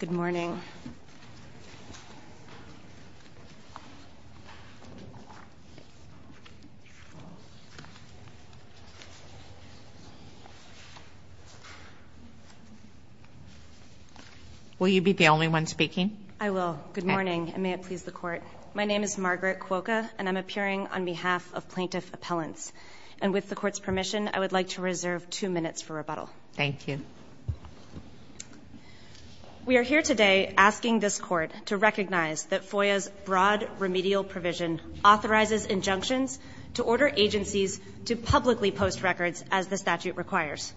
Good morning. Will you be the only one speaking? I will. Good morning and may it please the court. My name is Margaret Cuoco and I'm appearing on behalf of plaintiff appellants and with the court's permission I would like to reserve two We are here today asking this court to recognize that FOIA's broad remedial provision authorizes injunctions to order agencies to publicly post records as the statute requires.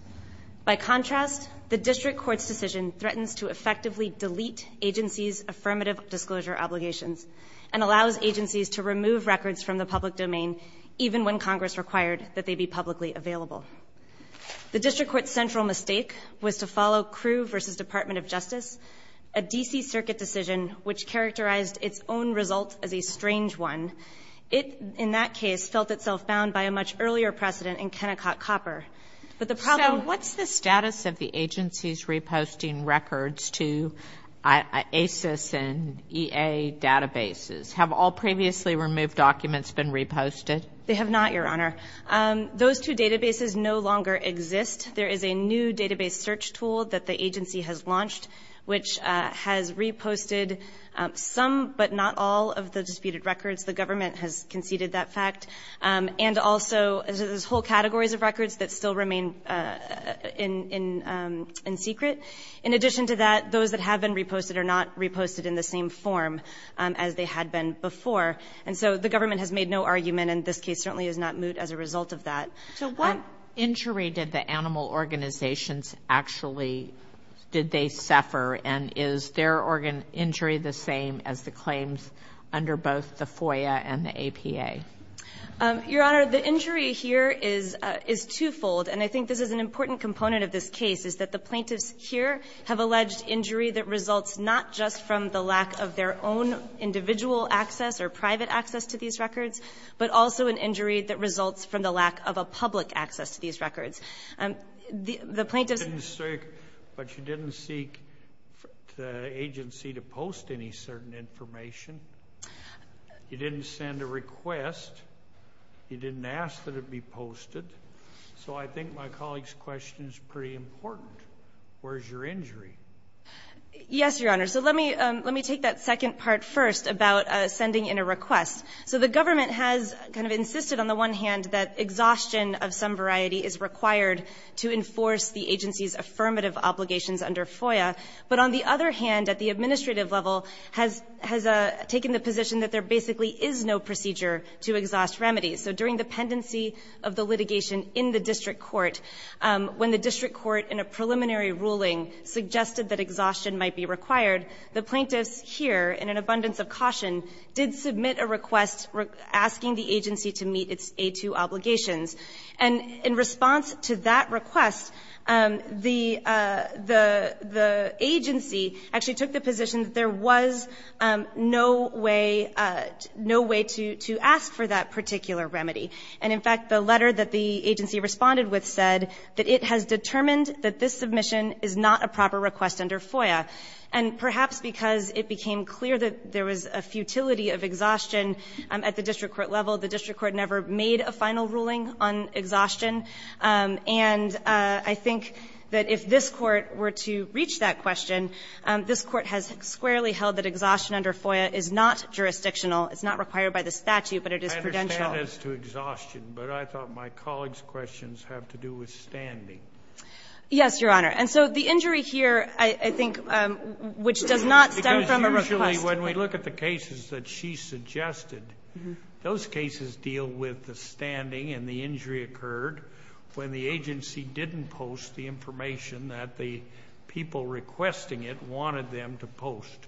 By contrast, the district court's decision threatens to effectively delete agency's affirmative disclosure obligations and allows agencies to remove records from the public domain even when Congress required that they be publicly available. The district court's central mistake was to follow Crew v. Department of Justice, a DC Circuit decision which characterized its own result as a strange one. It, in that case, felt itself bound by a much earlier precedent in Kennecott Copper, but the problem... So, what's the status of the agency's reposting records to ACES and EA databases? Have all previously removed documents been reposted? They have not, Your Honor. Those two databases no longer exist. There is a new database search tool that the agency has launched which has reposted some, but not all, of the disputed records. The government has conceded that fact. And also, there's whole categories of records that still remain in secret. In addition to that, those that have been reposted are not reposted in the same form as they had been before. And so the government has made no argument, and this case certainly is not moot as a case. So, what injury did the animal organizations actually... Did they suffer, and is their injury the same as the claims under both the FOIA and the APA? Your Honor, the injury here is twofold, and I think this is an important component of this case, is that the plaintiffs here have alleged injury that results not just from the lack of their own individual access or private access to these records, but also an injury that results from the lack of a public access to these records. The plaintiffs... But you didn't seek the agency to post any certain information. You didn't send a request. You didn't ask that it be posted. So, I think my colleague's question is pretty important. Where's your injury? Yes, Your Honor. So, let me take that second part first about sending in a request. So, the government has kind of insisted on the one hand that exhaustion of some variety is required to enforce the agency's affirmative obligations under FOIA. But on the other hand, at the administrative level, has taken the position that there basically is no procedure to exhaust remedies. So, during the pendency of the litigation in the district court, when the district court, in a preliminary ruling, suggested that exhaustion might be required, the plaintiffs here, in an abundance of caution, did submit a request asking the agency to meet its A2 obligations. And in response to that request, the agency actually took the position that there was no way to ask for that particular remedy. And in fact, the letter that the agency responded with said that it has determined that this submission is not a proper request under FOIA. And perhaps because it became clear that there was a futility of exhaustion at the district court level, the district court never made a final ruling on exhaustion. And I think that if this Court were to reach that question, this Court has squarely held that exhaustion under FOIA is not jurisdictional. It's not required by the statute, but it is prudential. I understand as to exhaustion, but I thought my colleague's questions have to do with standing. Yes, Your Honor. And so the injury here, I think, which does not stem from a request. Because usually, when we look at the cases that she suggested, those cases deal with the standing and the injury occurred when the agency didn't post the information that the people requesting it wanted them to post.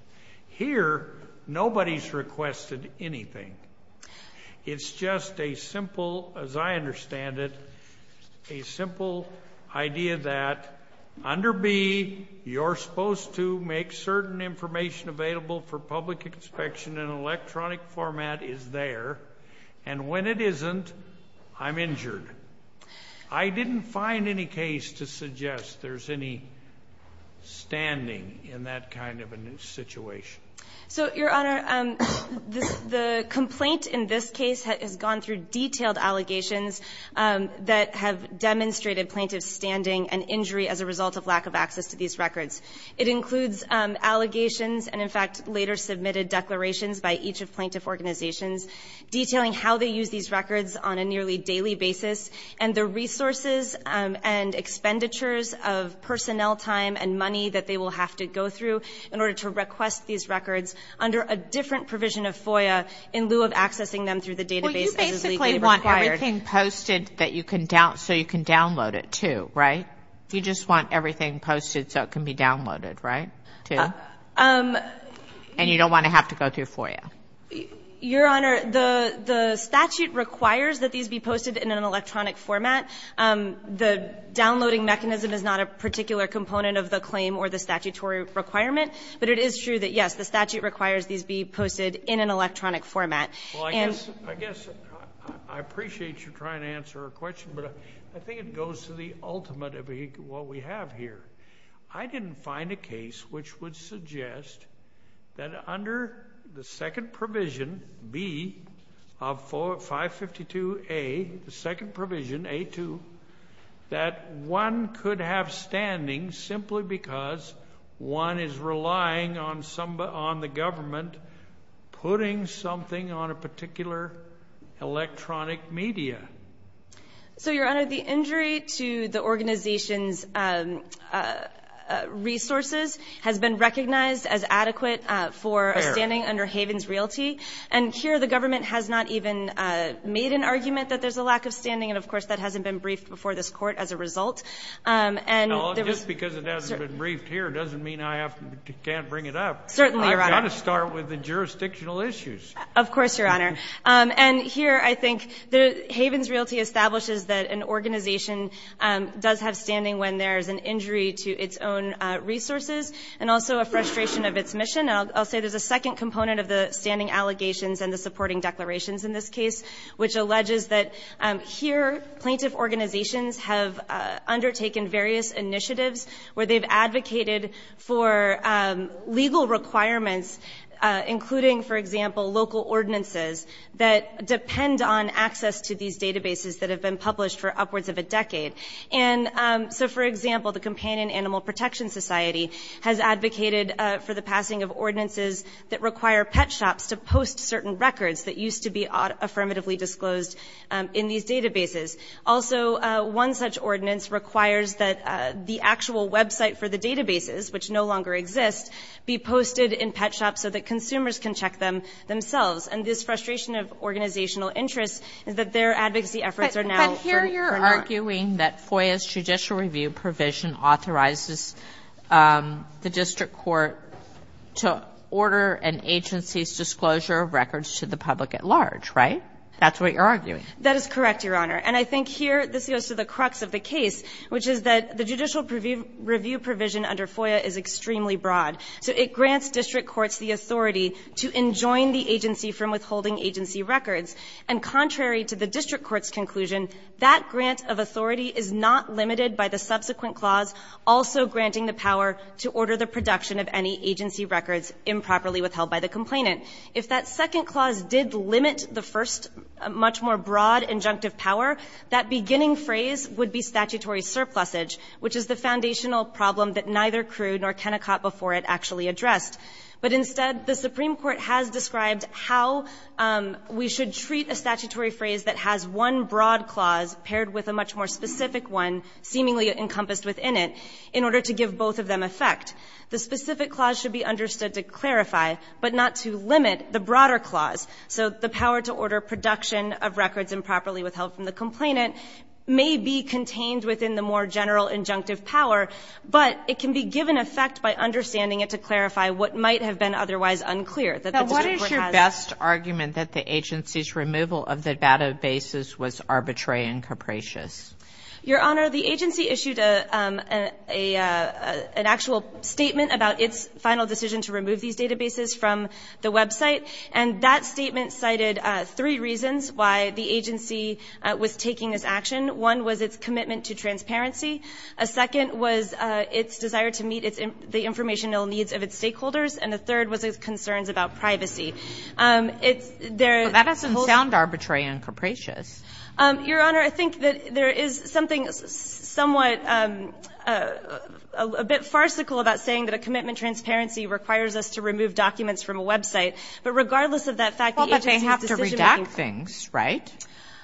Here, nobody's requested anything. It's just a simple, as I understand it, a simple idea that under B, you're supposed to make certain information available for public inspection in an electronic format is there, and when it isn't, I'm injured. I didn't find any case to suggest there's any standing in that kind of a situation. So, Your Honor, the complaint in this case has gone through detailed allegations that have demonstrated plaintiff's standing and injury as a result of lack of access to these records. It includes allegations and, in fact, later submitted declarations by each of plaintiff organizations detailing how they use these records on a nearly daily basis and the resources and expenditures of personnel time and money that they will have to go through in order to request these records under a different provision of FOIA in lieu of accessing them through the database as is legally required. Well, you basically want everything posted so you can download it, too, right? You just want everything posted so it can be downloaded, right, too? And you don't want to have to go through FOIA. Your Honor, the statute requires that these be posted in an electronic format. The downloading mechanism is not a particular component of the claim or the statutory requirement, but it is true that, yes, the statute requires these be posted in an electronic format. Well, I guess I appreciate you trying to answer a question, but I think it goes to the ultimate of what we have here. I didn't find a case which would suggest that under the second that one could have standing simply because one is relying on the government putting something on a particular electronic media. So, Your Honor, the injury to the organization's resources has been recognized as adequate for a standing under Havens Realty, and here the government has not even made an argument that there's a lack of standing, and, of course, that hasn't been briefed before this Court as a result. Well, just because it hasn't been briefed here doesn't mean I can't bring it up. Certainly, Your Honor. I've got to start with the jurisdictional issues. Of course, Your Honor. And here, I think, Havens Realty establishes that an organization does have standing when there's an injury to its own resources and also a frustration of its mission. I'll say there's a second component of the standing allegations and the supporting declarations in this case, which alleges that here plaintiff organizations have undertaken various initiatives where they've advocated for legal requirements, including, for example, local ordinances that depend on access to these databases that have been published for upwards of a decade. And so, for example, the Companion Animal Protection Society has advocated for the affirmatively disclosed in these databases. Also, one such ordinance requires that the actual website for the databases, which no longer exist, be posted in pet shops so that consumers can check them themselves. And this frustration of organizational interest is that their advocacy efforts are now— But here you're arguing that FOIA's judicial review provision authorizes the District Court to order an agency's disclosure of records to the public at large, right? That's what you're arguing. That is correct, Your Honor. And I think here this goes to the crux of the case, which is that the judicial review provision under FOIA is extremely broad. So it grants District Courts the authority to enjoin the agency from withholding agency records. And contrary to the District Court's conclusion, that grant of authority is not limited by the subsequent clause also granting the power to order the production of any agency records improperly withheld by the complainant. If that second clause did limit the first much more broad injunctive power, that beginning phrase would be statutory surplusage, which is the foundational problem that neither Crude nor Kennecott before it actually addressed. But instead, the Supreme Court has described how we should treat a statutory phrase that has one broad clause paired with a much more specific one seemingly encompassed within it in order to give both of them effect. The specific clause should be understood to clarify, but not to limit the broader clause. So the power to order production of records improperly withheld from the complainant may be contained within the more general injunctive power, but it can be given effect by understanding it to clarify what might have been otherwise unclear that the District Court has. Your Honor, the agency issued an actual statement about its final decision to remove these databases from the website, and that statement cited three reasons why the agency was taking this action. One was its commitment to transparency, a second was its desire to meet the informational needs of its stakeholders, and a third was its concerns about privacy. That doesn't sound arbitrary and capricious. Your Honor, I think that there is something somewhat a bit farcical about saying that a commitment to transparency requires us to remove documents from a website. But regardless of that fact, the agency has to redact things, right?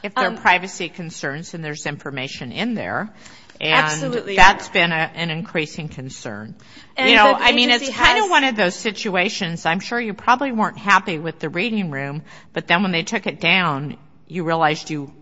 If there are privacy concerns and there's information in there, and that's been an increasing concern. I mean, it's kind of one of those situations, I'm sure you probably weren't happy with the reading room, but then when they took it down, you realized you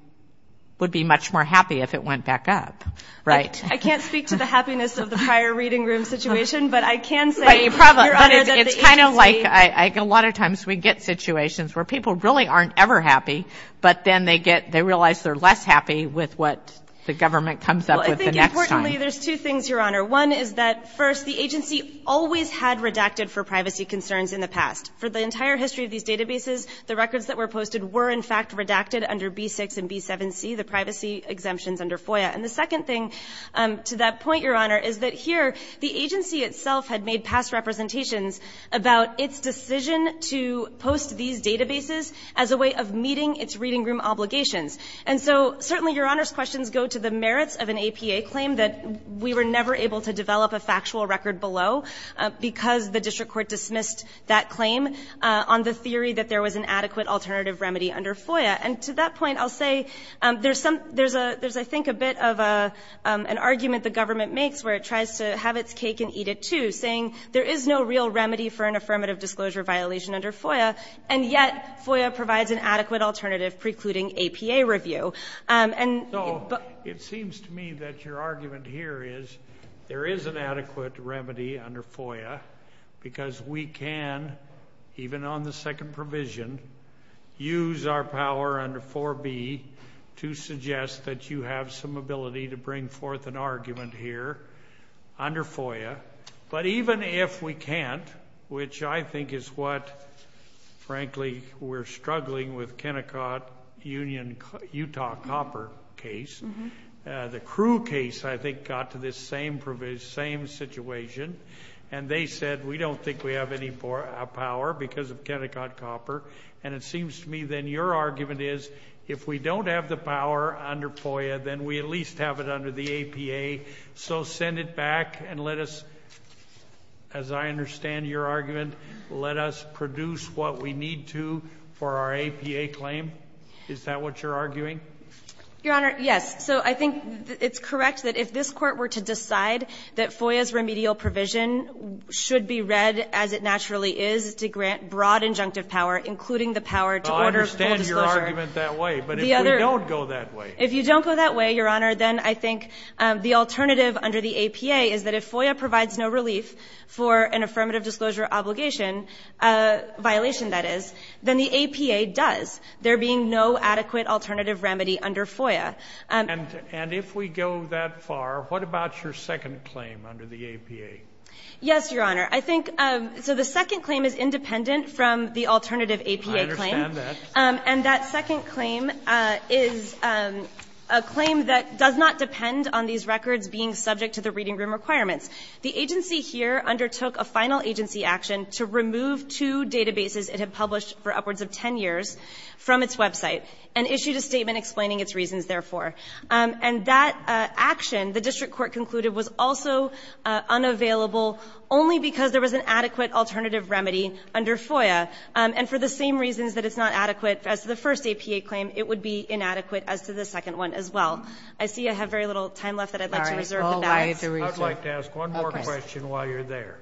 would be much more happy if it went back up, right? I can't speak to the happiness of the prior reading room situation, but I can say, Your Honor, that the agency But it's kind of like a lot of times we get situations where people really aren't ever happy, but then they get, they realize they're less happy with what the government comes up with the next time. There's two things, Your Honor. One is that, first, the agency always had redacted for privacy concerns in the past. For the entire history of these databases, the records that were posted were in fact redacted under B-6 and B-7C, the privacy exemptions under FOIA. And the second thing to that point, Your Honor, is that here the agency itself had made past representations about its decision to post these databases as a way of meeting its reading room obligations. And so certainly Your Honor's questions go to the merits of an APA claim that we were never able to develop a factual record below because the district court dismissed that claim on the theory that there was an adequate alternative remedy under FOIA. And to that point, I'll say there's some, there's a, there's, I think, a bit of an argument the government makes where it tries to have its cake and eat it too, saying there is no real remedy for an affirmative disclosure violation under FOIA, and yet FOIA provides an adequate alternative precluding APA review. And so it seems to me that your argument here is there is an adequate remedy under FOIA because we can, even on the second provision, use our power under 4B to suggest that you have some ability to bring forth an argument here under FOIA. But even if we can't, which I think is what, frankly, we're struggling with Kennecott Union Utah Copper case. The Crewe case, I think, got to this same provision, same situation. And they said, we don't think we have any power because of Kennecott Copper. And it seems to me then your argument is if we don't have the power under FOIA, then we at least have it under the APA. So send it back and let us, as I understand your argument, let us produce what we need to for our APA claim. Is that what you're arguing? Your Honor, yes. So I think it's correct that if this Court were to decide that FOIA's remedial provision should be read as it naturally is to grant broad injunctive power, including the power to order full disclosure. I understand your argument that way. But if we don't go that way. If you don't go that way, Your Honor, then I think the alternative under the APA is that if FOIA provides no relief for an affirmative disclosure obligation, a violation that is, then the APA does. There being no adequate alternative remedy under FOIA. And if we go that far, what about your second claim under the APA? Yes, Your Honor. I think so the second claim is independent from the alternative APA claim. I understand that. And that second claim is a claim that does not depend on these records being subject to the reading room requirements. The agency here undertook a final agency action to remove two databases it had published for upwards of 10 years from its website and issued a statement explaining its reasons, therefore. And that action, the district court concluded, was also unavailable only because there was an adequate alternative remedy under FOIA. And for the same reasons that it's not adequate as to the first APA claim, it would be inadequate as to the second one as well. I see I have very little time left that I'd like to reserve. I'd like to ask one more question while you're there.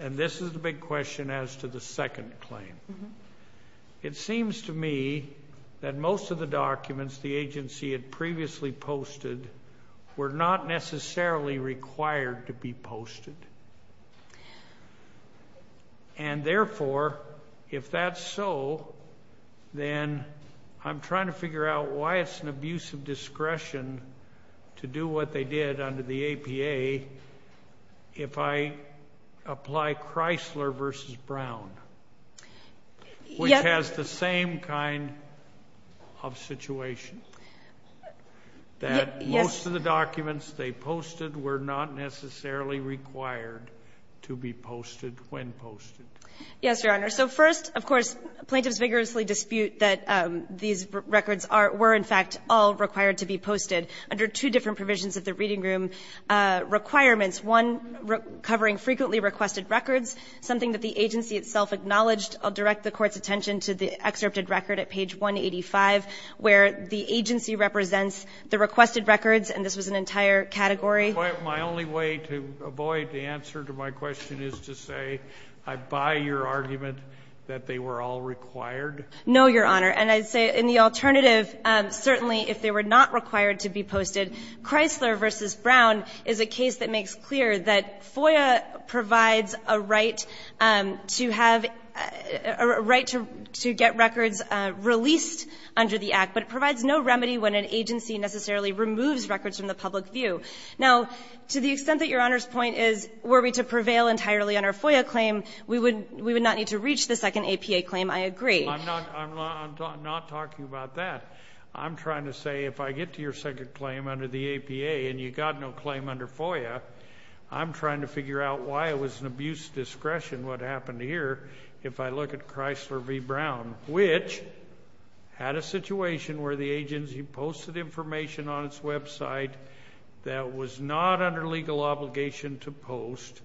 And this is the big question as to the second claim. Mm-hmm. It seems to me that most of the documents the agency had previously posted were not necessarily required to be posted. And therefore, if that's so, then I'm trying to figure out why it's an abuse of discretion to do what they did under the APA if I apply Chrysler versus Brown. Yes. Which has the same kind of situation, that most of the documents they posted were not necessarily required to be posted when posted. Yes, Your Honor. So first, of course, plaintiffs vigorously dispute that these records were, in fact, all required to be posted under two different provisions of the reading room requirements, one covering frequently requested records, something that the agency itself acknowledged. I'll direct the Court's attention to the excerpted record at page 185, where the agency represents the requested records, and this was an entire category. But my only way to avoid the answer to my question is to say, I buy your argument that they were all required? No, Your Honor. And I'd say in the alternative, certainly if they were not required to be posted, Chrysler versus Brown is a case that makes clear that FOIA provides a right to have a right to get records released under the Act, but it provides no remedy when an agency necessarily removes records from the public view. Now, to the extent that Your Honor's point is were we to prevail entirely on our FOIA claim, we would not need to reach the second APA claim, I agree. I'm not talking about that. I'm trying to say if I get to your second claim under the APA and you got no claim under FOIA, I'm trying to figure out why it was an abuse of discretion what happened here if I look at Chrysler v. Brown, which had a situation where the agency posted information on its website that was not under legal obligation to post,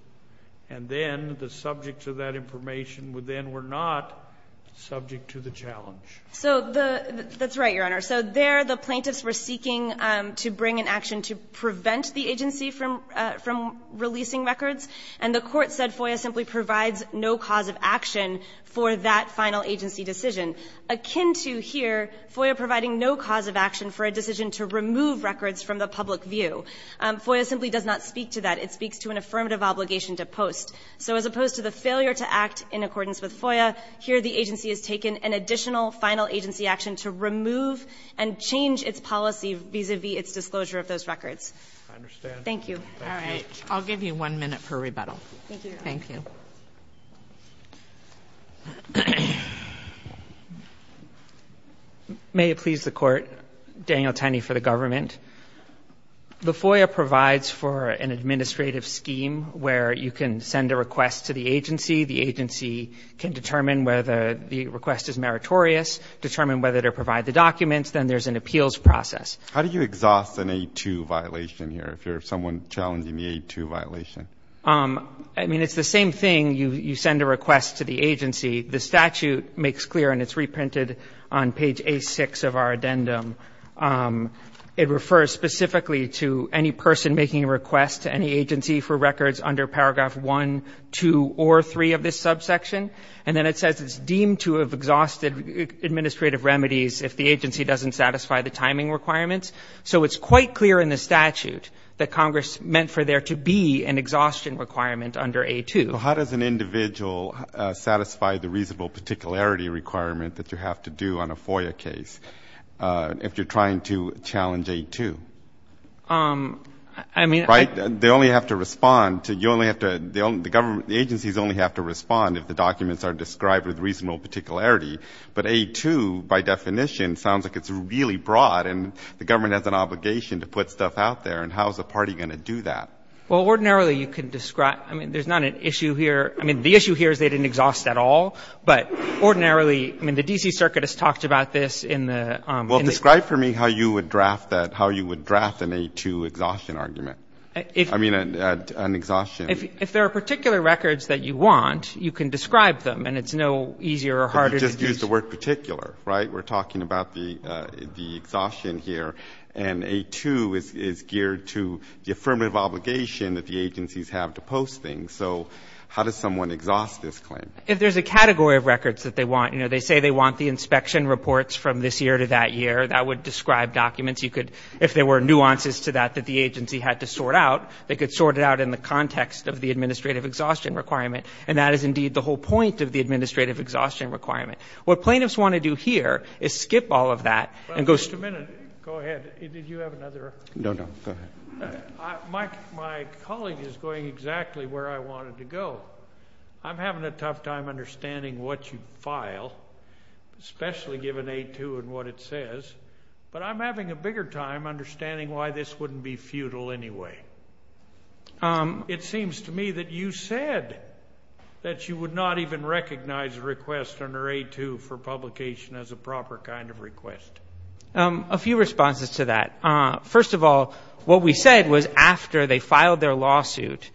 and then the subjects of that information then were not subject to the challenge. So that's right, Your Honor. So there the plaintiffs were seeking to bring an action to prevent the agency from releasing records, and the Court said FOIA simply provides no cause of action for that final agency decision, akin to here FOIA providing no cause of action for a decision to remove records from the public view. FOIA simply does not speak to that. It speaks to an affirmative obligation to post. So as opposed to the failure to act in accordance with FOIA, here the agency has taken an additional final agency action to remove and change its policy vis-à-vis its disclosure of those records. I understand. Thank you. All right. I'll give you one minute for rebuttal. Thank you, Your Honor. Thank you. May it please the Court, Daniel Tenney for the government. The FOIA provides for an administrative scheme where you can send a request to the agency. The agency can determine whether the request is meritorious, determine whether to provide the documents. Then there's an appeals process. How do you exhaust an A2 violation here if you're someone challenging the A2 violation? I mean, it's the same thing. You send a request to the agency. The statute makes clear, and it's reprinted on page A6 of our addendum. It refers specifically to any person making a request to any agency for records under paragraph 1, 2, or 3 of this subsection. And then it says it's deemed to have exhausted administrative remedies if the agency doesn't satisfy the timing requirements. So it's quite clear in the statute that Congress meant for there to be an exhaustion requirement under A2. How does an individual satisfy the reasonable particularity requirement that you have to do on a FOIA case if you're trying to challenge A2? I mean, I — I mean, you only have to respond to — you only have to — the government — the agencies only have to respond if the documents are described with reasonable particularity. But A2, by definition, sounds like it's really broad, and the government has an obligation to put stuff out there. And how is the party going to do that? Well, ordinarily, you could describe — I mean, there's not an issue here — I mean, the issue here is they didn't exhaust at all. But ordinarily — I mean, the D.C. Circuit has talked about this in the — Well, describe for me how you would draft that — how you would draft an A2 exhaustion argument. I mean, an exhaustion — If there are particular records that you want, you can describe them, and it's no easier or harder to do — But you just used the word particular, right? We're talking about the exhaustion here, and A2 is geared to the affirmative obligation that the agencies have to post things. So how does someone exhaust this claim? If there's a category of records that they want — you know, they say they want the inspection reports from this year to that year. That would describe documents. If there were nuances to that that the agency had to sort out, they could sort it out in the context of the administrative exhaustion requirement. And that is indeed the whole point of the administrative exhaustion requirement. What plaintiffs want to do here is skip all of that and go — But wait a minute. Go ahead. Did you have another — No, no. Go ahead. My colleague is going exactly where I wanted to go. I'm having a tough time understanding what you file, especially given A2 and what it says. But I'm having a bigger time understanding why this wouldn't be futile anyway. It seems to me that you said that you would not even recognize a request under A2 for publication as a proper kind of request. A few responses to that. First of all, what we said was after they filed their lawsuit,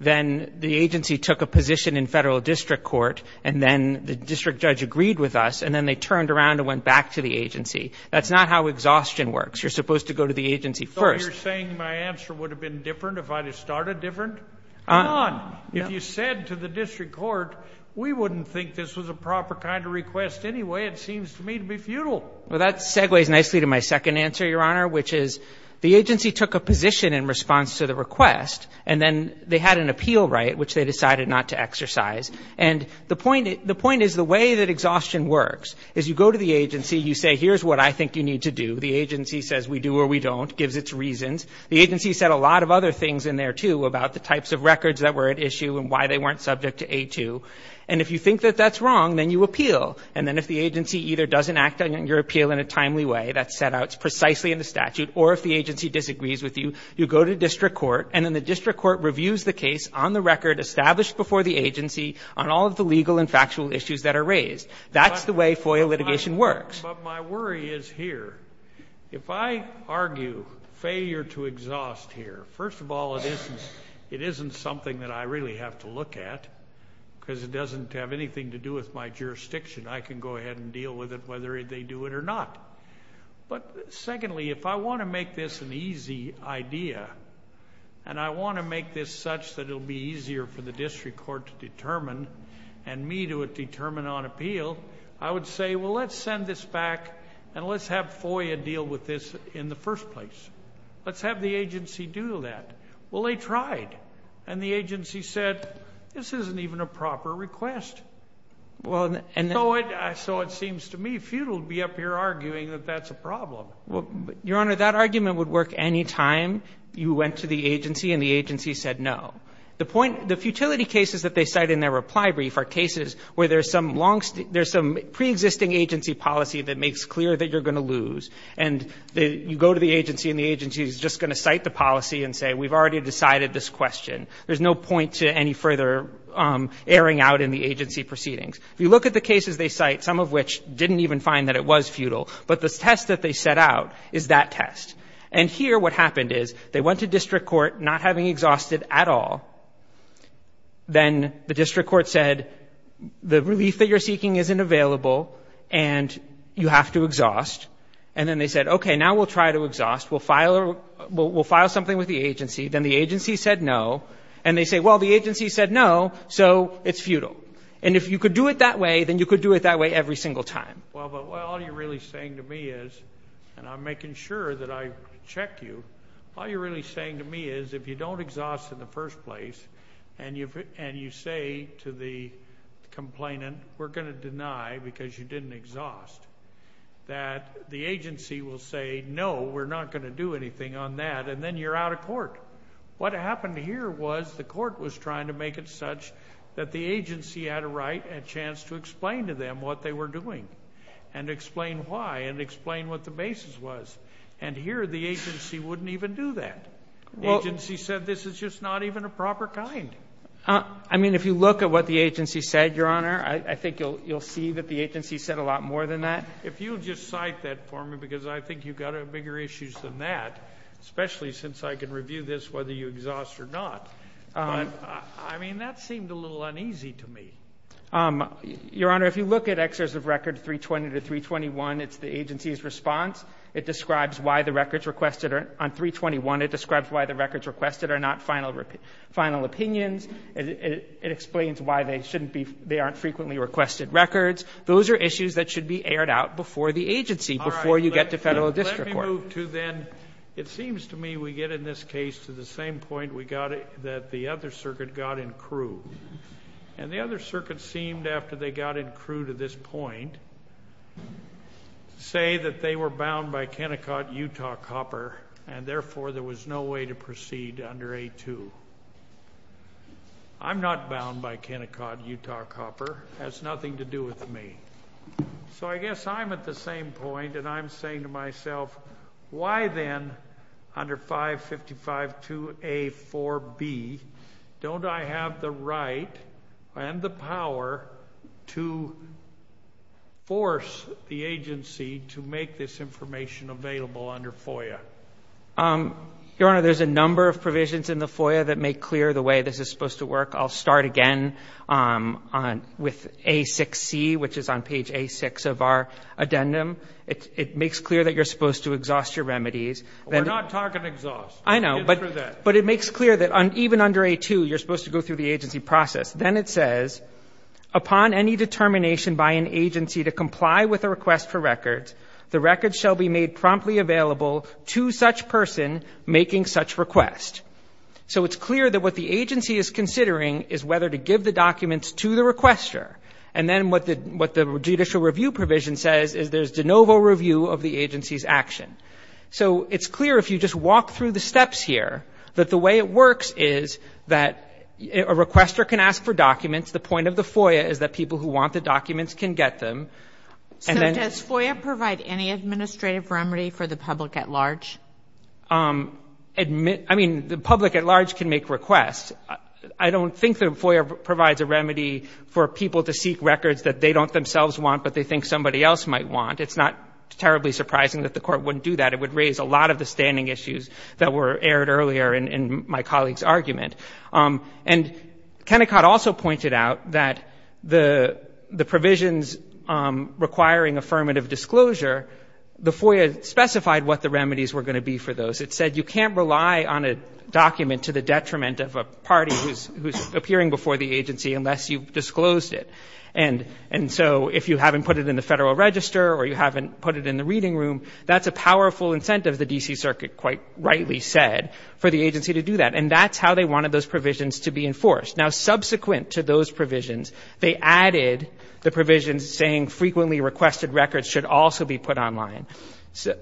then the agency took a position in federal district court, and then the district judge agreed with us, and then they turned around and went back to the agency. That's not how exhaustion works. You're supposed to go to the agency first. So you're saying my answer would have been different if I had started different? Come on. If you said to the district court, we wouldn't think this was a proper kind of request anyway, it seems to me to be futile. Well, that segues nicely to my second answer, Your Honor, which is the agency took a position in response to the request, and then they had an appeal right, which they decided not to exercise. And the point is the way that exhaustion works is you go to the agency, you say, here's what I think you need to do. The agency says we do or we don't, gives its reasons. The agency said a lot of other things in there, too, about the types of records that were at issue and why they weren't subject to A2. And if you think that that's wrong, then you appeal. And then if the agency either doesn't act on your appeal in a timely way, that's set out precisely in the statute, or if the agency disagrees with you, you go to district court, and then the district court reviews the case on the record established before the agency on all of the legal and factual issues that are raised. That's the way FOIA litigation works. But my worry is here. If I argue failure to exhaust here, first of all, it isn't something that I really have to look at because it doesn't have anything to do with my jurisdiction. I can go ahead and deal with it whether they do it or not. But secondly, if I want to make this an easy idea, and I want to make this such that it'll be easier for the district court to determine and me to determine on appeal, I would say, well, let's send this back and let's have FOIA deal with this in the first place. Let's have the agency do that. Well, they tried. And the agency said, this isn't even a proper request. So it seems to me futile to be up here arguing that that's a problem. Well, Your Honor, that argument would work any time you went to the agency and the agency said no. The point, the futility cases that they cite in their reply brief are cases where there's some pre-existing agency policy that makes clear that you're going to lose. And you go to the agency and the agency is just going to cite the policy and say, we've already decided this question. There's no point to any further erring out in the agency proceedings. If you look at the cases they cite, some of which didn't even find that it was futile, but the test that they set out is that test. And here what happened is they went to district court not having exhausted at all. Then the district court said, the relief that you're seeking isn't available and you have to exhaust. And then they said, okay, now we'll try to exhaust. We'll file something with the agency. Then the agency said no. And they say, well, the agency said no. So it's futile. And if you could do it that way, then you could do it that way every single time. Well, but all you're really saying to me is, and I'm making sure that I check you, all you're really saying to me is, if you don't exhaust in the first place, and you say to the complainant, we're going to deny because you didn't exhaust, that the agency will say, no, we're not going to do anything on that. And then you're out of court. What happened here was the court was trying to make it such that the agency had a right, a chance to explain to them what they were doing and explain why and explain what the basis was. And here the agency wouldn't even do that. The agency said this is just not even a proper kind. I mean, if you look at what the agency said, Your Honor, I think you'll see that the agency said a lot more than that. If you'll just cite that for me, because I think you've got bigger issues than that, especially since I can review this whether you exhaust or not. But I mean, that seemed a little uneasy to me. Your Honor, if you look at Excerpts of Record 320 to 321, it's the agency's response. It describes why the records requested are on 321. It describes why the records requested are not final opinions. It explains why they shouldn't be, they aren't frequently requested records. Those are issues that should be aired out before the agency, before you get to federal district court. Let me move to then, it seems to me we get in this case to the same point we got that the other circuit got in Crewe. And the other circuit seemed after they got in Crewe to this point, say that they were bound by Kennecott, Utah, Copper, and therefore there was no way to proceed under A2. I'm not bound by Kennecott, Utah, Copper. It has nothing to do with me. So I guess I'm at the same point, and I'm saying to myself, why then under 555-2A-4B don't I have the right and the power to force the agency to make this information available under FOIA? Your Honor, there's a number of provisions in the FOIA that make clear the way this is supposed to work. I'll start again with A6C, which is on page A6 of our addendum. It makes clear that you're supposed to exhaust your remedies. We're not talking exhaust. I know. Get through that. But it makes clear that even under A2, you're supposed to go through the agency process. Then it says, upon any determination by an agency to comply with a request for records, the records shall be made promptly available to such person making such request. So it's clear that what the agency is considering is whether to give the documents to the requester. And then what the judicial review provision says is there's de novo review of the agency's action. So it's clear if you just walk through the steps here, that the way it works is that a requester can ask for documents. The point of the FOIA is that people who want the documents can get them. So does FOIA provide any administrative remedy for the public at large? I mean, the public at large can make requests. I don't think the FOIA provides a remedy for people to seek records that they don't themselves want, but they think somebody else might want. It's not terribly surprising that the court wouldn't do that. It would raise a lot of the standing issues that were aired earlier in my colleague's argument. And Kennecott also pointed out that the provisions requiring affirmative disclosure, the FOIA specified what the remedies were going to be for those. It said you can't rely on a document to the detriment of a party who's appearing before the agency unless you've disclosed it. And so if you haven't put it in the Federal Register or you haven't put it in the Reading Room, that's a powerful incentive, the D.C. Circuit quite rightly said, for the agency to do that. And that's how they wanted those provisions to be enforced. Now, subsequent to those provisions, they added the provisions saying frequently requested records should also be put online.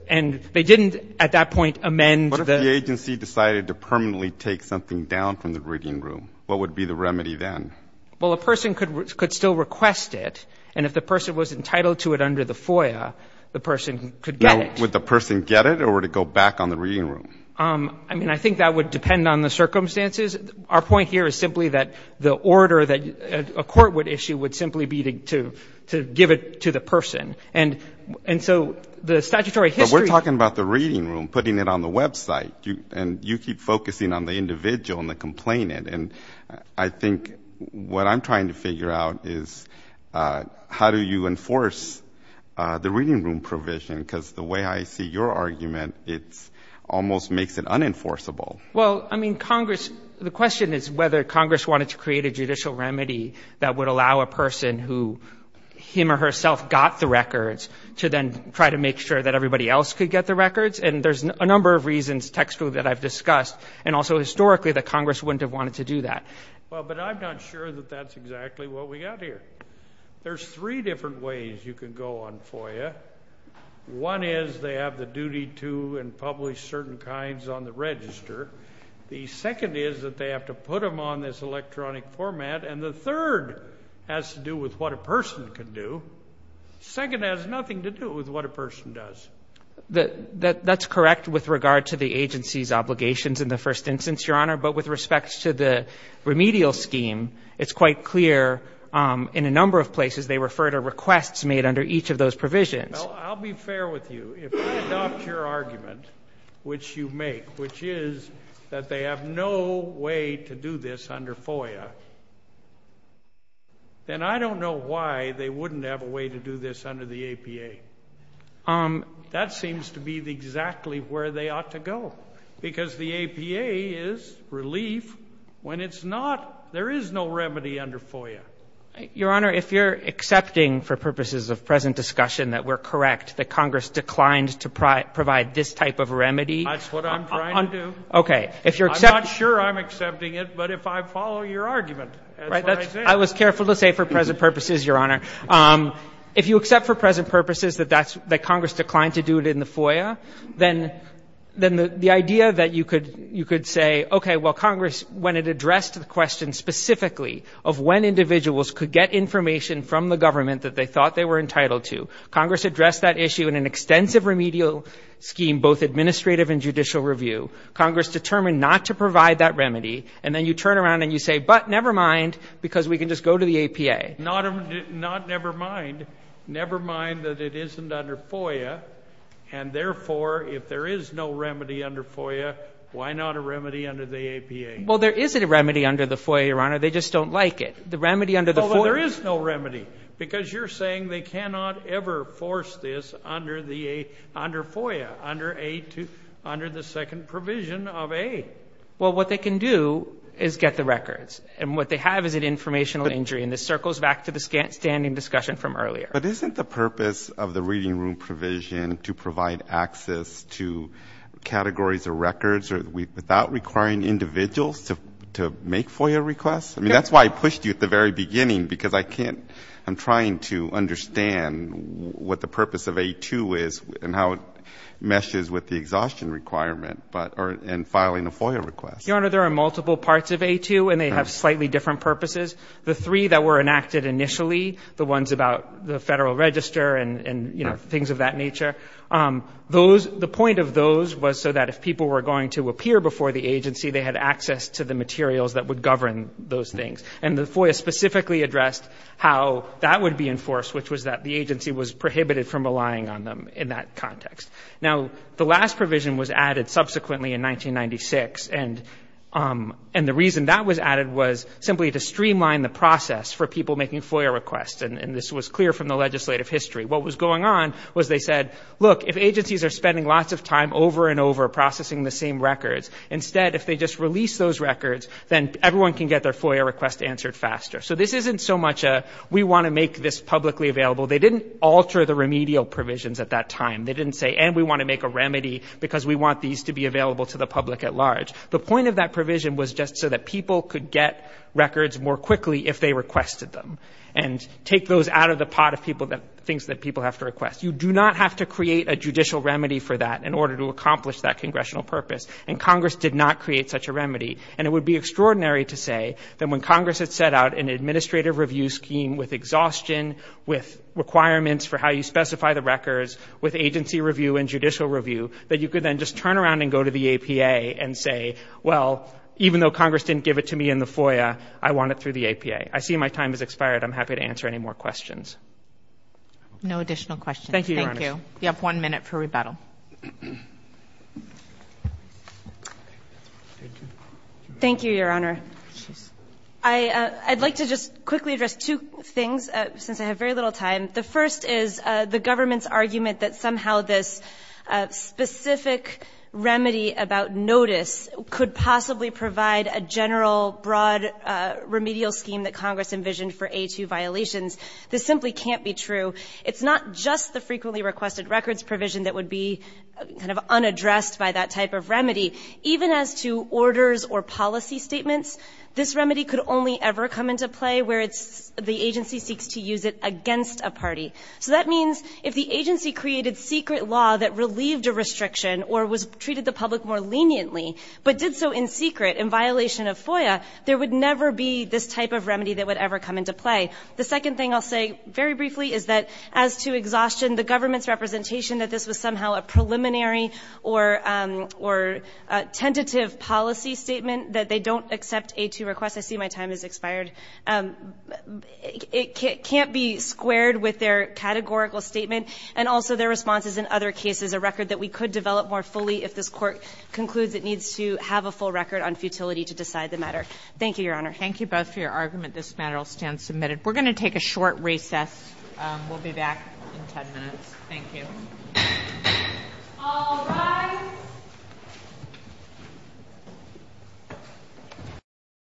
And they didn't, at that point, amend the ‑‑ What if the agency decided to permanently take something down from the Reading Room? What would be the remedy then? Well, a person could still request it. And if the person was entitled to it under the FOIA, the person could get it. Would the person get it or would it go back on the Reading Room? I mean, I think that would depend on the circumstances. Our point here is simply that the order that a court would issue would simply be to give it to the person. And so the statutory history ‑‑ But we're talking about the Reading Room, putting it on the website. And you keep focusing on the individual and the complainant. And I think what I'm trying to figure out is how do you enforce the Reading Room provision? Because the way I see your argument, it almost makes it unenforceable. Well, I mean, Congress ‑‑ the question is whether Congress wanted to create a judicial remedy that would allow a person who, him or herself, got the records to then try to make sure that everybody else could get the records. And there's a number of reasons textually that I've discussed. And also historically that Congress wouldn't have wanted to do that. Well, but I'm not sure that that's exactly what we got here. There's three different ways you can go on FOIA. One is they have the duty to and publish certain kinds on the register. The second is that they have to put them on this electronic format. And the third has to do with what a person can do. Second has nothing to do with what a person does. That's correct with regard to the agency's obligations in the first instance, Your Honor. But with respect to the remedial scheme, it's quite clear in a number of places they refer to requests made under each of those provisions. I'll be fair with you. If I adopt your argument, which you make, which is that they have no way to do this under FOIA, then I don't know why they wouldn't have a way to do this under the APA. That seems to be exactly where they ought to go, because the APA is relief. When it's not, there is no remedy under FOIA. Your Honor, if you're accepting for purposes of present discussion that we're correct that Congress declined to provide this type of remedy. That's what I'm trying to do. Okay. I'm not sure I'm accepting it, but if I follow your argument, that's what I say. I was careful to say for present purposes, Your Honor. If you accept for present purposes that Congress declined to do it in the FOIA, then the idea that you could say, okay, well, Congress, when it addressed the question specifically of when individuals could get information from the government that they thought they were entitled to, Congress addressed that issue in an extensive remedial scheme, both administrative and judicial review. Congress determined not to provide that remedy. And then you turn around and you say, but never mind, because we can just go to the APA. Not never mind. Never mind that it isn't under FOIA. And therefore, if there is no remedy under FOIA, why not a remedy under the APA? Well, there is a remedy under the FOIA, Your Honor. They just don't like it. The remedy under the FOIA. There is no remedy, because you're saying they cannot ever force this under FOIA, under the second provision of aid. Well, what they can do is get the records. And what they have is an informational injury. And this circles back to the standing discussion from earlier. But isn't the purpose of the reading room provision to provide access to categories or records without requiring individuals to make FOIA requests? I mean, that's why I pushed you at the very beginning, because I can't, I'm trying to understand what the purpose of A2 is and how it meshes with the exhaustion requirement, but, and filing a FOIA request. Your Honor, there are multiple parts of A2, and they have slightly different purposes. The three that were enacted initially, the ones about the Federal Register and things of that nature, those, the point of those was so that if people were going to appear before the agency, they had access to the materials that would govern those things. And the FOIA specifically addressed how that would be enforced, which was that the agency was prohibited from relying on them in that context. Now, the last provision was added subsequently in 1996. And the reason that was added was simply to streamline the process for people making FOIA requests. And this was clear from the legislative history. What was going on was they said, look, if agencies are spending lots of time over and over processing the same records, instead, if they just release those records, then everyone can get their FOIA request answered faster. So this isn't so much a, we want to make this publicly available. They didn't alter the remedial provisions at that time. They didn't say, and we want to make a remedy because we want these to be available to the public at large. The point of that provision was just so that people could get records more quickly if they requested them. And take those out of the pot of people that, things that people have to request. You do not have to create a judicial remedy for that in order to accomplish that congressional purpose. And Congress did not create such a remedy. And it would be extraordinary to say that when Congress had set out an administrative review scheme with exhaustion, with requirements for how you specify the records, with agency review and judicial review, that you could then just turn around and go to the APA and say, well, even though Congress didn't give it to me in the FOIA, I want it through the APA. I see my time has expired. I'm happy to answer any more questions. No additional questions. Thank you, Your Honor. You have one minute for rebuttal. Thank you, Your Honor. I'd like to just quickly address two things, since I have very little time. The first is the government's argument that somehow this specific remedy about notice could possibly provide a general, broad remedial scheme that Congress envisioned for A2 violations. This simply can't be true. It's not just the frequently requested records provision that would be kind of unaddressed by that type of remedy. Even as to orders or policy statements, this remedy could only ever come into play where it's the agency seeks to use it against a party. So that means if the agency created secret law that relieved a restriction or was treated the public more leniently, but did so in secret in violation of FOIA, there would never be this type of remedy that would ever come into play. The second thing I'll say very briefly is that as to exhaustion, the government's preliminary or tentative policy statement that they don't accept A2 requests. I see my time has expired. It can't be squared with their categorical statement and also their responses in other cases, a record that we could develop more fully if this Court concludes it needs to have a full record on futility to decide the matter. Thank you, Your Honor. Thank you both for your argument. This matter will stand submitted. We're going to take a short recess. We'll be back in 10 minutes. Thank you. All rise.